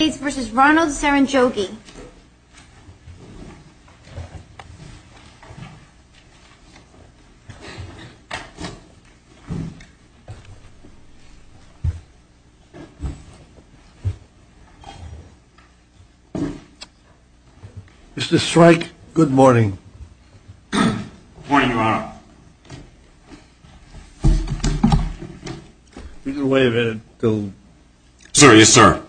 United States v. Ronald Serunjogi Mr. Strike, good morning Good morning, Your Honor Wait a minute, Bill Sir, yes sir Good morning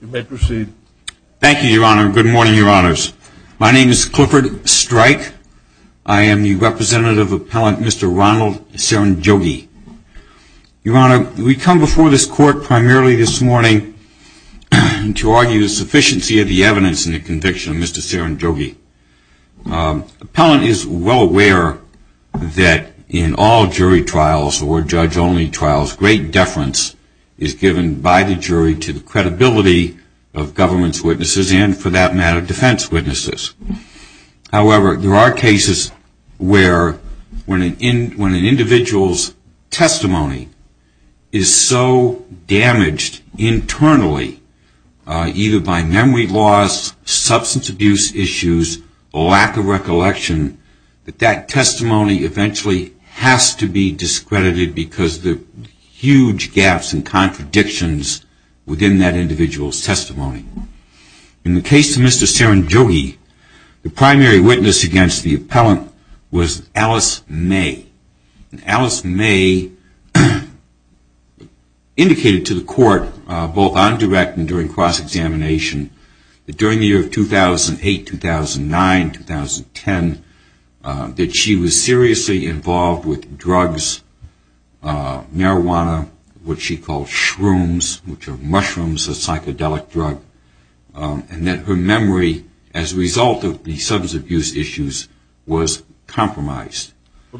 You may proceed Thank you, Your Honor. Good morning, Your Honors. My name is Clifford Strike. I am the representative appellant, Mr. Ronald Serunjogi. Your Honor, we come before this court primarily this morning to argue the sufficiency of the evidence in the conviction of Mr. Serunjogi. The appellant is well aware that in all jury trials or judge-only trials, great deference is given by the jury to the credibility of government's witnesses and, for that matter, defense witnesses. However, there are cases where when an individual's testimony is so damaged internally, either by memory loss, substance abuse issues, lack of recollection, that that testimony eventually has to be discredited because of the huge gaps and contradictions within that individual's testimony. In the case of Mr. Serunjogi, the primary witness against the appellant was Alice May. Alice May indicated to the court, both on direct and during cross-examination, that during the year of 2008, 2009, 2010, that she was seriously involved with drugs, marijuana, what she called shrooms, which are mushrooms, a psychedelic drug, and that her memory as a result of the substance abuse issues was compromised. So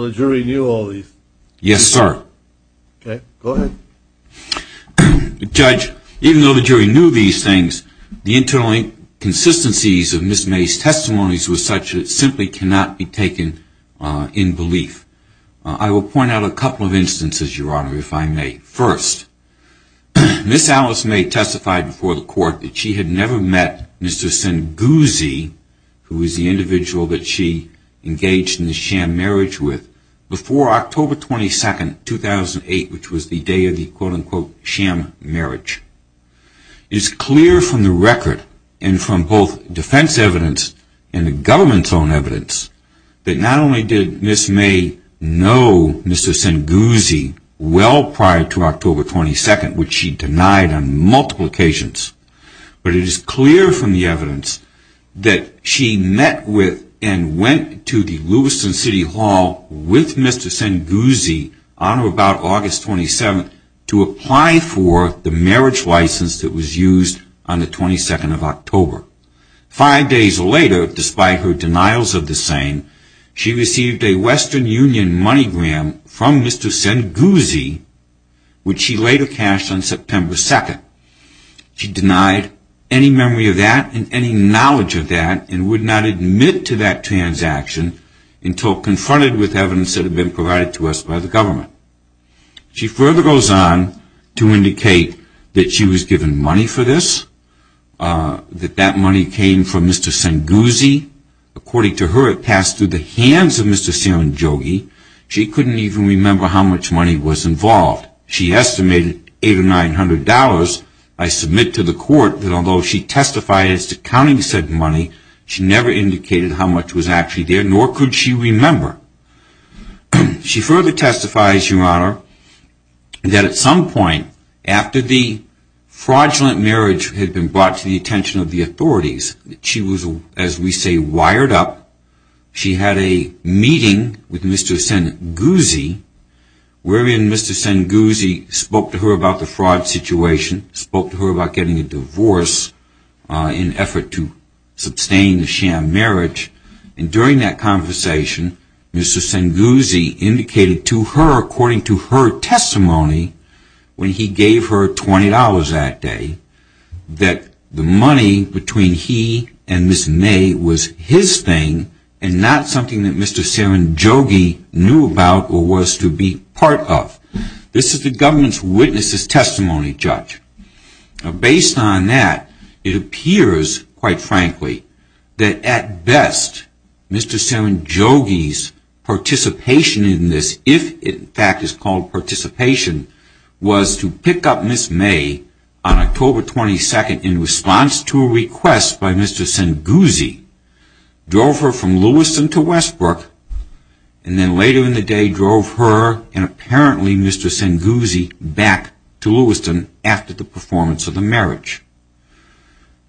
the jury knew all these things? Yes, sir. Okay, go ahead. Judge, even though the jury knew these things, the internal inconsistencies of Ms. May's testimonies were such that it simply cannot be taken in belief. I will point out a couple of instances, Your Honor, if I may. First, Ms. Alice May testified before the court that she had never met Mr. Serunjogi, who was the individual that she engaged in the sham marriage with, before October 22, 2008, which was the day of the quote-unquote sham marriage. It is clear from the record, and from both defense evidence and the government's own evidence, that not only did Ms. May know Mr. Serunjogi well prior to October 22, which she denied on multiple occasions, but it is clear from the evidence that she met with and went to the Lewiston City Hall with Mr. Serunjogi on or about August 27 to apply for the marriage license that was used on the 22nd of October. Five days later, despite her denials of the same, she received a Western Union money gram from Mr. Serunjogi, which she later cashed on September 2. She denied any memory of that and any knowledge of that and would not admit to that transaction until confronted with evidence that had been provided to us by the government. She further goes on to indicate that she was given money for this, that that money came from Mr. Senguzi. According to her, it passed through the hands of Mr. Serunjogi. She couldn't even remember how much money was involved. She estimated $800 or $900. I submit to the court that although she testified as to counting said money, she never indicated how much was actually there, nor could she remember. She further testifies, Your Honor, that at some point after the fraudulent marriage had been brought to the attention of the authorities, she was, as we say, wired up. She had a meeting with Mr. Senguzi, wherein Mr. Senguzi spoke to her about the fraud situation, spoke to her about getting a divorce in effort to sustain the sham marriage. And during that conversation, Mr. Senguzi indicated to her, according to her testimony, when he gave her $20 that day, that the money between he and Ms. Ney was his thing and not something that Mr. Serunjogi knew about or was to be part of. This is the government's witness's testimony, Judge. Based on that, it appears, quite frankly, that at best, Mr. Serunjogi's participation in this, if in fact it's called participation, was to pick up Ms. Ney on October 22nd in response to a request by Mr. Senguzi, drove her from Lewiston to Westbrook, and then later in the day, drove her and apparently Mr. Senguzi back to Lewiston after that.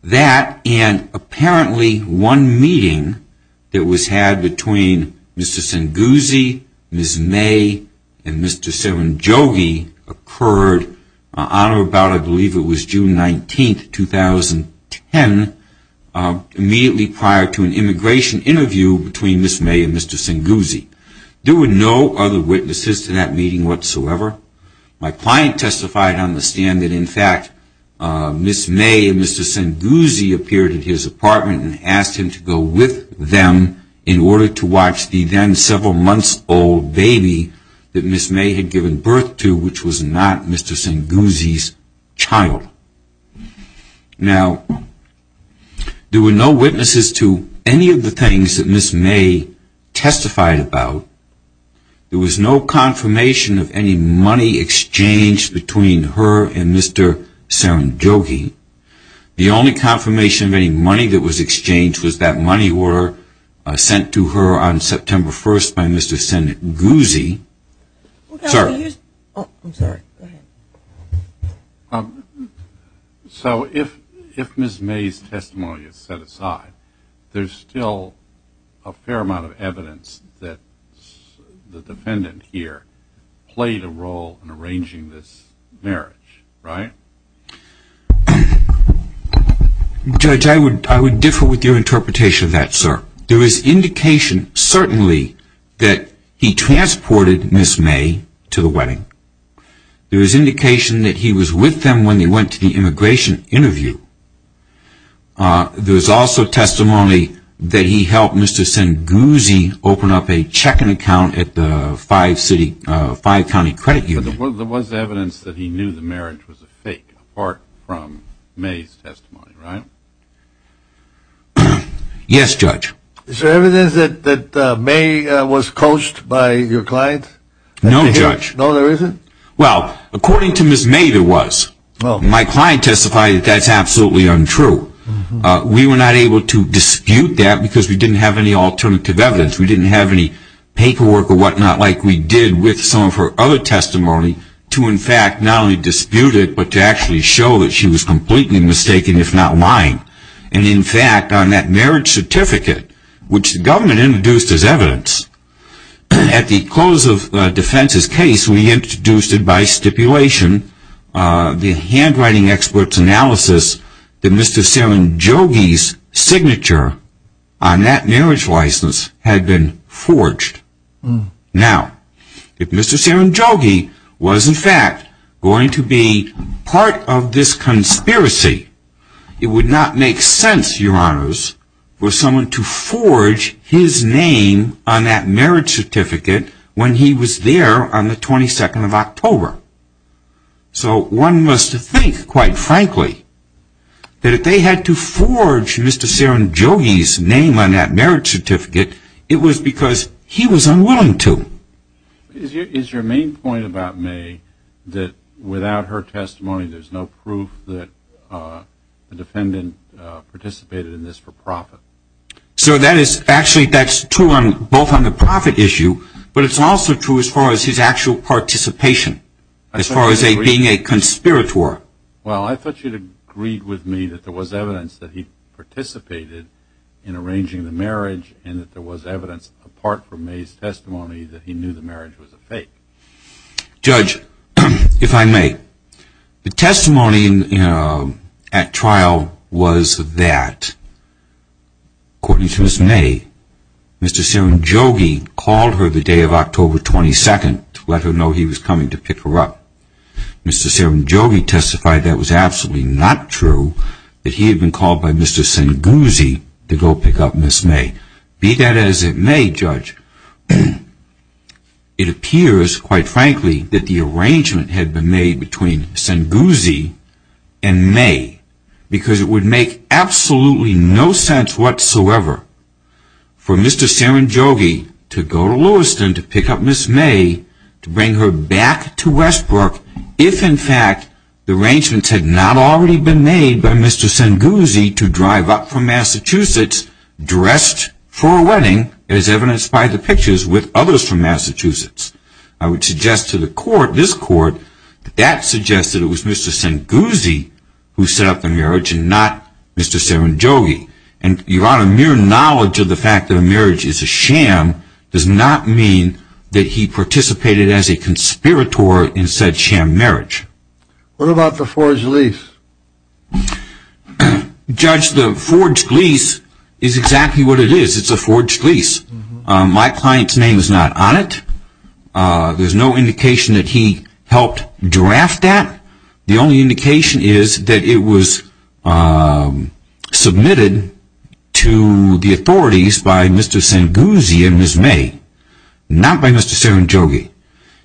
That and apparently one meeting that was had between Mr. Senguzi, Ms. Ney, and Mr. Serunjogi occurred on or about, I believe it was June 19th, 2010, immediately prior to an immigration interview between Ms. Ney and Mr. Senguzi. There were no other witnesses to that meeting whatsoever. My client testified on the stand that, in fact, Ms. Ney and Mr. Senguzi appeared at his apartment and asked him to go with them in order to watch the then several months old baby that Ms. Ney had given birth to, which was not Mr. Senguzi's child. Now, there were no witnesses to any of the things that Ms. Ney testified about. There was no confirmation of any money exchanged between her and Mr. Serunjogi. The only confirmation of any money that was exchanged was that money were sent to her on September 1st by Mr. Senguzi. So, if Ms. Ney's testimony is set aside, there's still a fair amount of evidence that the defendant here played a role in arranging this marriage, right? Judge, I would differ with your interpretation of that, sir. There is indication, certainly, that he transported Ms. Ney to the wedding. There is indication that he was with them when they went to the immigration interview. There is also testimony that he helped Mr. Senguzi open up a checking account at the five-city, five-county credit union. There was evidence that he knew the marriage was a fake, apart from Ms. Ney's testimony, right? Yes, Judge. Is there evidence that Ms. Ney was coached by your client? No, Judge. No, there isn't? Well, according to Ms. Ney, there was. My client testified that that's absolutely untrue. We were not able to dispute that because we didn't have any alternative evidence. We didn't have any paperwork or whatnot like we did with some of her other testimony to, in fact, not only dispute it, but to actually show that she was completely mistaken, if not lying. And, in fact, on that marriage certificate, which the government introduced as evidence, at the close of Defense's case, we introduced it by stipulation, the handwriting expert's analysis, that Mr. Serenjogi's signature on that marriage license had been forged. Now, if Mr. Serenjogi was, in fact, going to be part of this conspiracy, it would not make sense, Your Honors, for someone to forge his name on that marriage certificate when he was there on the 22nd of October. So one must think, quite frankly, that if they had to forge Mr. Serenjogi's name on that marriage certificate, it was because he was unwilling to. Is your main point about Ney that without her testimony, there's no proof that the defendant participated in this for profit? So that is, actually, that's true both on the profit issue, but it's also true as far as his actual participation, as far as being a conspirator. Well, I thought you'd agreed with me that there was evidence that he participated in arranging the marriage and that there was evidence, apart from Ney's testimony, that he knew the marriage was a fake. Judge, if I may, the testimony at trial was that, according to Ms. Ney, Mr. Serenjogi called her the day of October 22nd to let her know he was coming to pick her up. Mr. Serenjogi testified that was absolutely not true, that he had been called by Mr. Sanguzzi to go pick up Ms. Ney. Be that as it may, Judge, it appears, quite frankly, that the arrangement had been made between Sanguzzi and Ney, because it would make absolutely no sense whatsoever for Mr. Serenjogi to go to Lewiston to pick up Ms. Ney, to bring her back to Westbrook, if, in fact, the arrangements had not already been made by Mr. Sanguzzi to drive up from Massachusetts dressed for a wedding, as evidenced by the pictures, with others from Massachusetts. I would suggest to the court, this court, that that suggests that it was Mr. Sanguzzi who set up the marriage and not Mr. Serenjogi. Your Honor, mere knowledge of the fact that a marriage is a sham does not mean that he participated as a conspirator in said sham marriage. What about the forged lease? Judge, the forged lease is exactly what it is. It's a forged lease. My client's name is not on it. There's no indication that he helped draft that. The only indication is that it was submitted to the authorities by Mr. Sanguzzi and Ms. Ney, not by Mr. Serenjogi.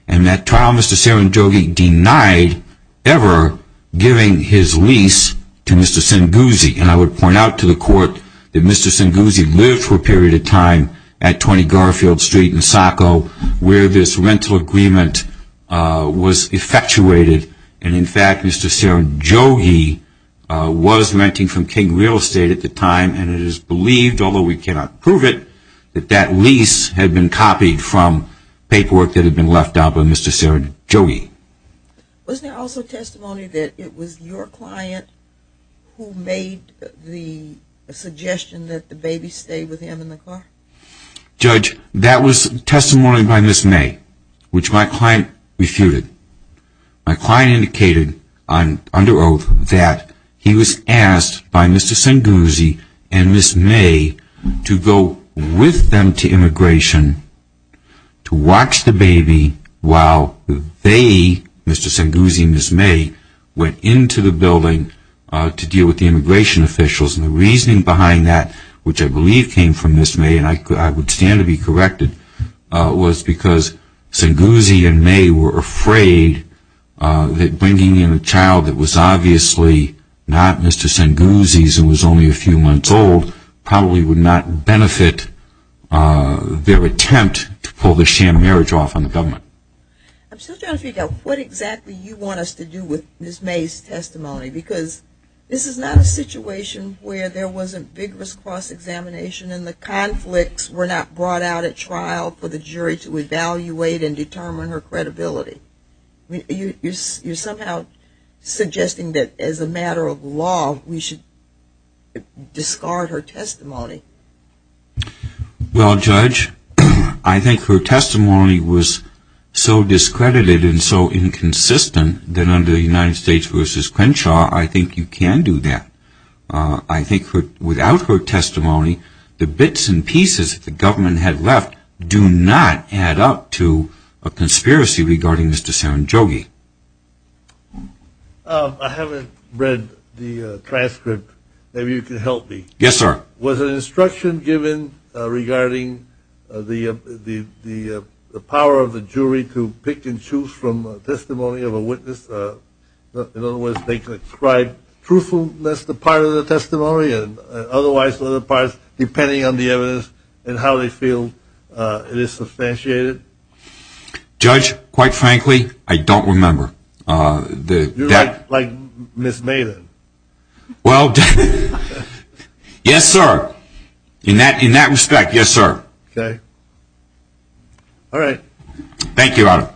And that trial, Mr. Serenjogi denied ever giving his lease to Mr. Sanguzzi. And I would point out to the court that Mr. Sanguzzi lived for a period of time at 20 Garfield Street in Saco, where this rental agreement was effectuated. And, in fact, Mr. Serenjogi was renting from King Real Estate at the time. And it is believed, although we cannot prove it, that that lease had been copied from paperwork that had been left out by Mr. Serenjogi. Wasn't there also testimony that it was your client who made the suggestion that the baby stay with him in the car? Judge, that was testimony by Ms. Ney, which my client refuted. My client indicated under oath that he was asked by Mr. Sanguzzi and Ms. Ney to go with them to immigration to watch the baby while they, Mr. Sanguzzi and Ms. Ney, went into the building to deal with the immigration officials. And the reasoning behind that, which I believe came from Ms. Ney, and I would stand to be corrected, was because Sanguzzi and Ney were afraid that bringing in a child that was obviously not Mr. Sanguzzi's and was only a few months old probably would not benefit their attempt to pull the sham marriage off on the government. I'm still trying to figure out what exactly you want us to do with Ms. Ney's testimony, because this is not a situation where there wasn't vigorous cross-examination and the conflicts were not brought out at trial for the jury to evaluate and determine her credibility. You're somehow suggesting that as a matter of law, we should discard her testimony. Well, Judge, I think her testimony was so discredited and so inconsistent that under the United States v. Crenshaw, I think you can do that. I think without her testimony, the bits and pieces that the government had left do not add up to a conspiracy regarding Mr. Sanguzzi. I haven't read the transcript. Maybe you can help me. Yes, sir. Was an instruction given regarding the power of the jury to pick and choose from a testimony of a witness? In other words, they could describe truthfulness as a part of the testimony and otherwise other parts depending on the evidence and how they feel it is substantiated? Judge, quite frankly, I don't remember. You're like Ms. Maiden. Well, yes, sir. In that respect, yes, sir. Okay. All right. Thank you, Your Honor.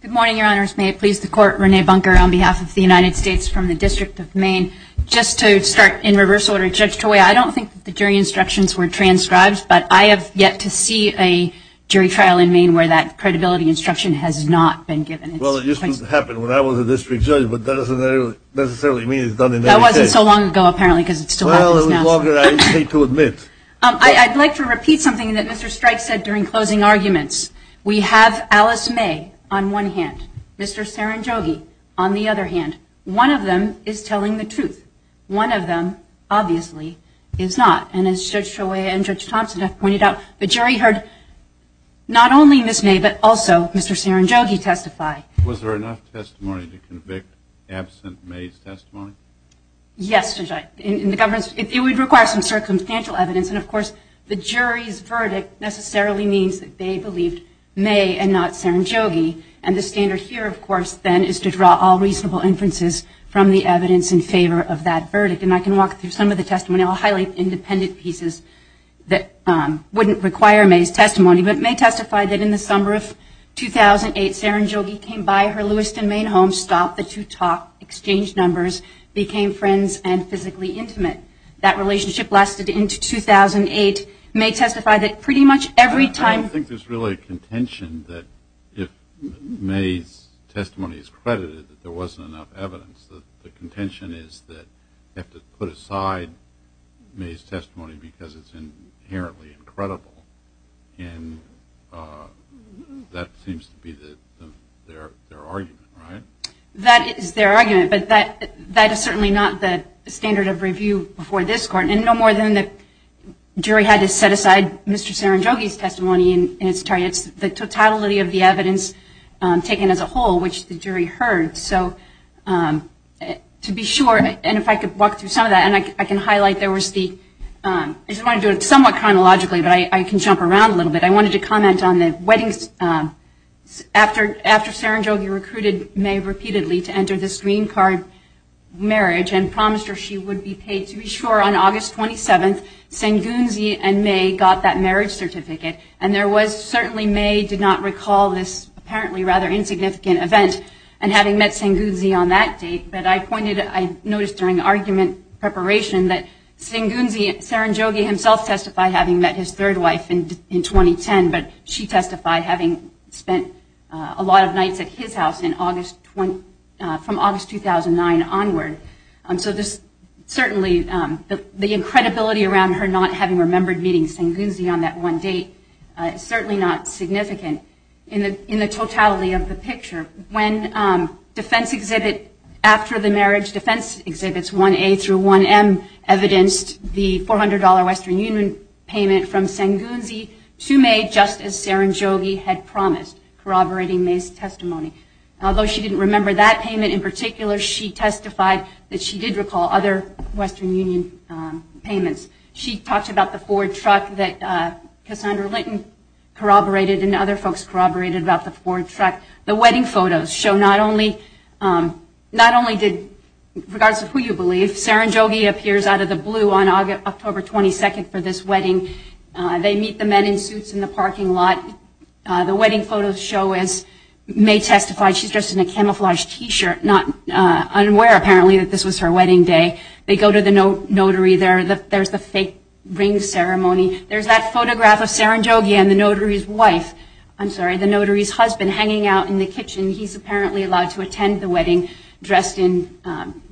Good morning, Your Honors. May it please the Court, Renee Bunker on behalf of the United States from the District of Maine. Just to start in reverse order, Judge Toye, I don't think the jury instructions were transcribed, but I have yet to see a jury trial in Maine where that credibility instruction was given. Well, it used to happen when I was a district judge, but that doesn't necessarily mean it's done in every case. That wasn't so long ago, apparently, because it still happens now. Well, it was longer, I hate to admit. I'd like to repeat something that Mr. Strike said during closing arguments. We have Alice May on one hand, Mr. Saranjogi on the other hand. One of them is telling the truth. One of them, obviously, is not. And as Judge Toye and Judge Thompson have pointed out, the jury heard not only Ms. May, but also Mr. Saranjogi testify. Was there enough testimony to convict absent May's testimony? Yes, Judge. It would require some circumstantial evidence, and, of course, the jury's verdict necessarily means that they believed May and not Saranjogi. And the standard here, of course, then, is to draw all reasonable inferences from the evidence in favor of that verdict. And I can walk through some of the testimony. I'll highlight independent pieces that wouldn't require May's testimony. But May testified that in the summer of 2008, Saranjogi came by her Lewiston, Maine home, stopped the two talk, exchanged numbers, became friends, and physically intimate. That relationship lasted into 2008. May testified that pretty much every time ---- I don't think there's really a contention that if May's testimony is credited, that there wasn't enough evidence. The contention is that you have to put aside May's testimony because it's inherently incredible. And that seems to be their argument, right? That is their argument. But that is certainly not the standard of review before this Court. And no more than the jury had to set aside Mr. Saranjogi's testimony. And it's the totality of the evidence taken as a whole, which the jury heard. So to be sure, and if I could walk through some of that, and I can highlight there was the ---- I just want to do it somewhat chronologically, but I can jump around a little bit. I wanted to comment on the weddings. After Saranjogi recruited May repeatedly to enter this green card marriage and promised her she would be paid, to be sure, on August 27th, Sengunzi and May got that marriage certificate. And there was certainly May did not recall this apparently rather insignificant event, and having met Sengunzi on that date. But I pointed, I noticed during argument preparation that Sengunzi, Saranjogi himself testified having met his third wife in 2010, but she testified having spent a lot of nights at his house from August 2009 onward. So there's certainly the incredibility around her not having remembered meeting Sengunzi on that one date. It's certainly not significant in the totality of the picture. When defense exhibit after the marriage defense exhibits 1A through 1M evidenced the $400 Western Union payment from Sengunzi to May just as Saranjogi had promised, corroborating May's testimony. Although she didn't remember that payment in particular, she testified that she did recall other Western Union payments. She talked about the Ford truck that Cassandra Linton corroborated and other folks corroborated about the Ford truck. The wedding photos show not only did, regardless of who you believe, Saranjogi appears out of the blue on October 22nd for this wedding. They meet the men in suits in the parking lot. The wedding photos show as May testified. She's dressed in a camouflaged t-shirt, not unaware apparently that this was her wedding day. They go to the notary. There's the fake ring ceremony. There's that photograph of Saranjogi and the notary's wife, I'm sorry, the notary's husband hanging out in the kitchen. He's apparently allowed to attend the wedding dressed in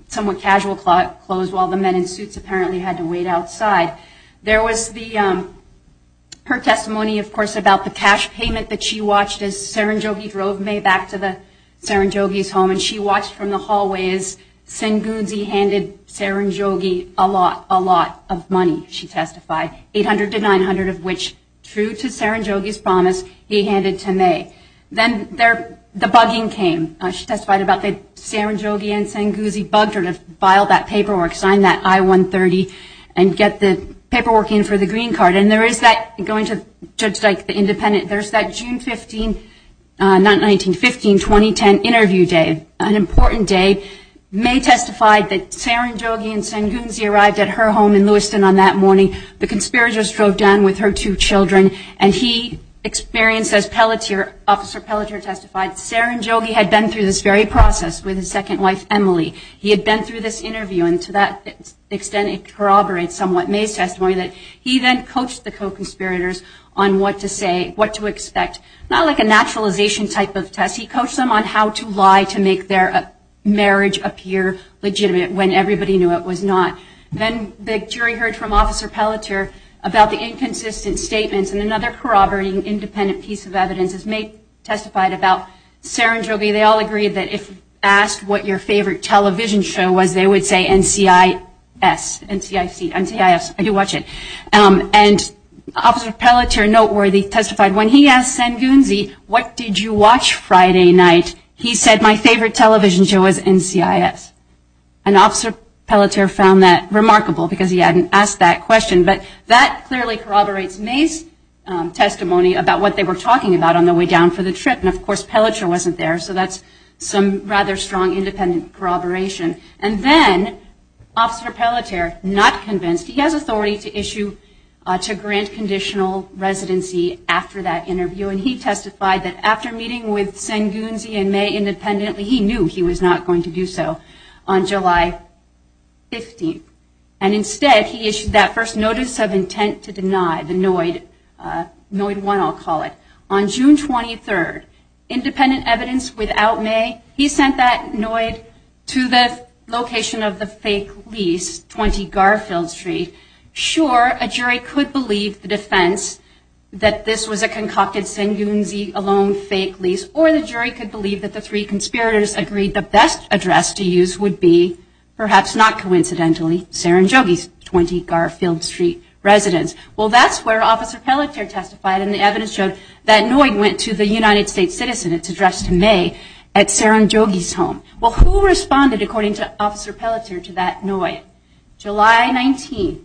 somewhat casual clothes while the men in suits apparently had to wait outside. There was her testimony, of course, about the cash payment that she watched as Saranjogi drove May back to Saranjogi's home. And she watched from the hallways. Sengunzi handed Saranjogi a lot, a lot of money, she testified, $800 to $900 of which, true to Saranjogi's promise, he handed to May. Then the bugging came. She testified about the Saranjogi and Sengunzi bugged her to file that paperwork, sign that I-130 and get the paperwork in for the green card. And there is that, going to Judge Dyke, the independent, there's that June 15, not 19, 15, 2010 interview day, an important day. May testified that Saranjogi and Sengunzi arrived at her home in Lewiston on that morning. The conspirators drove down with her two children and he experienced, as Officer Pelletier testified, Saranjogi had been through this very process with his second wife, Emily. He had been through this interview and to that extent it corroborates somewhat May's testimony that he then coached the co-conspirators on what to say, what to expect, not like a naturalization type of test. He coached them on how to lie to make their marriage appear legitimate when everybody knew it was not. Then the jury heard from Officer Pelletier about the inconsistent statements and another corroborating independent piece of evidence as May testified about Saranjogi. They all agreed that if asked what your favorite television show was, they would say NCIS, NCIS, I do watch it. And Officer Pelletier, noteworthy, testified when he asked Sengunzi, what did you watch Friday night, he said my favorite television show was NCIS. And Officer Pelletier found that remarkable because he hadn't asked that question. But that clearly corroborates May's testimony about what they were talking about on the way down for the trip, and of course Pelletier wasn't there, so that's some rather strong independent corroboration. And then Officer Pelletier, not convinced, he has authority to issue, to grant conditional residency after that interview, and he testified that after meeting with Sengunzi and May independently, he knew he was not going to do so on July 15th. And instead he issued that first notice of intent to deny the NOID, NOID 1 I'll call it, on June 23rd. Independent evidence without May, he sent that NOID to the location of the fake lease, 20 Garfield Street. Sure, a jury could believe the defense that this was a concocted Sengunzi alone fake lease, or the jury could believe that the three conspirators agreed the best address to use would be, perhaps not coincidentally, Saranjogi's 20 Garfield Street residence. Well that's where Officer Pelletier testified, and the evidence showed that NOID went to the United States citizen, it's addressed to May, at Saranjogi's home. Well who responded, according to Officer Pelletier, to that NOID? July 19th,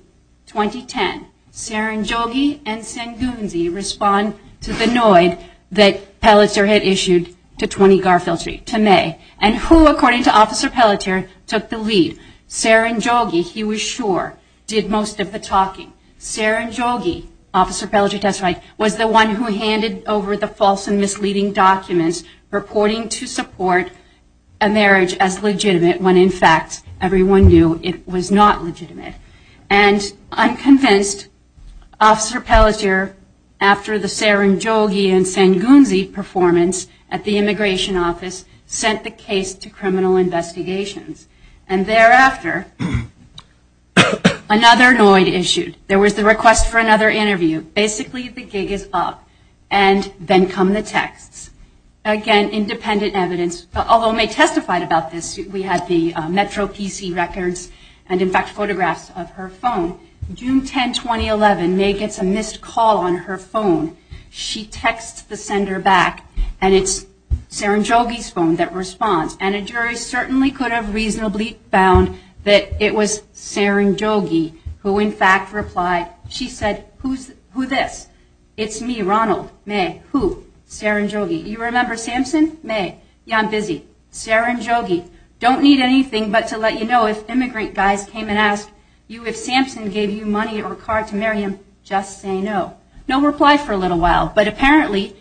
2010, Saranjogi and Sengunzi respond to the NOID that Pelletier had issued to 20 Garfield Street, to May. And who, according to Officer Pelletier, took the lead? Saranjogi, he was sure, did most of the talking. Saranjogi, Officer Pelletier testified, was the one who handed over the false and misleading documents reporting to support a marriage as legitimate when in fact everyone knew it was not legitimate. And I'm convinced Officer Pelletier, after the Saranjogi and Sengunzi performance at the immigration office, sent the case to criminal investigations. And thereafter, another NOID issued. There was the request for another interview. Basically the gig is up, and then come the texts. Again, independent evidence, although May testified about this, we have the Metro PC records, and in fact photographs of her phone. June 10, 2011, May gets a missed call on her phone. She texts the sender back, and it's Saranjogi's phone that responds. And a jury certainly could have reasonably found that it was Saranjogi who in fact replied. She said, who this? It's me, Ronald. May. Who? Saranjogi. You remember Samson? May. Yeah, I'm busy. Saranjogi. Don't need anything but to let you know if immigrant guys came and asked you if Samson gave you money or a card to marry him. Just say no. No reply for a little while, but apparently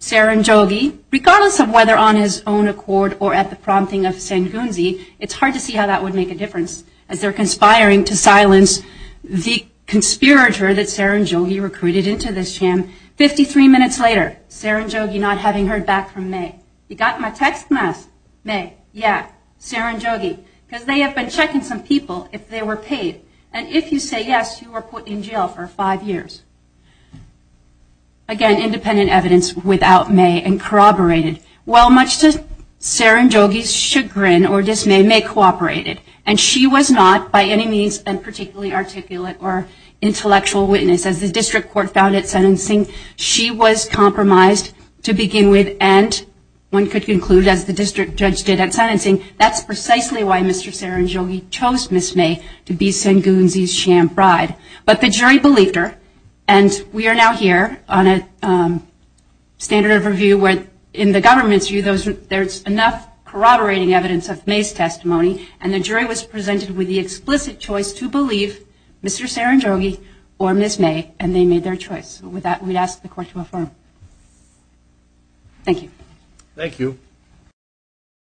Saranjogi, regardless of whether on his own accord or at the prompting of Sengunzi, it's hard to see how that would make a difference as they're conspiring to silence the conspirator that Saranjogi recruited into this sham. 53 minutes later, Saranjogi not having heard back from May. You got my text? Yes. May. Yeah. Saranjogi. Because they have been checking some people if they were paid. And if you say yes, you were put in jail for five years. Again, independent evidence without May and corroborated. Well, much to Saranjogi's chagrin or dismay, May cooperated. And she was not by any means a particularly articulate or intellectual witness. As the district court found at sentencing, she was compromised to begin with. And one could conclude, as the district judge did at sentencing, that's precisely why Mr. Saranjogi chose Ms. May to be Sengunzi's sham bride. But the jury believed her. And we are now here on a standard of review where, in the government's view, there's enough corroborating evidence of May's testimony. And the jury was presented with the explicit choice to believe Mr. Saranjogi or Ms. May. And they made their choice. With that, we ask the court to affirm. Thank you. Thank you.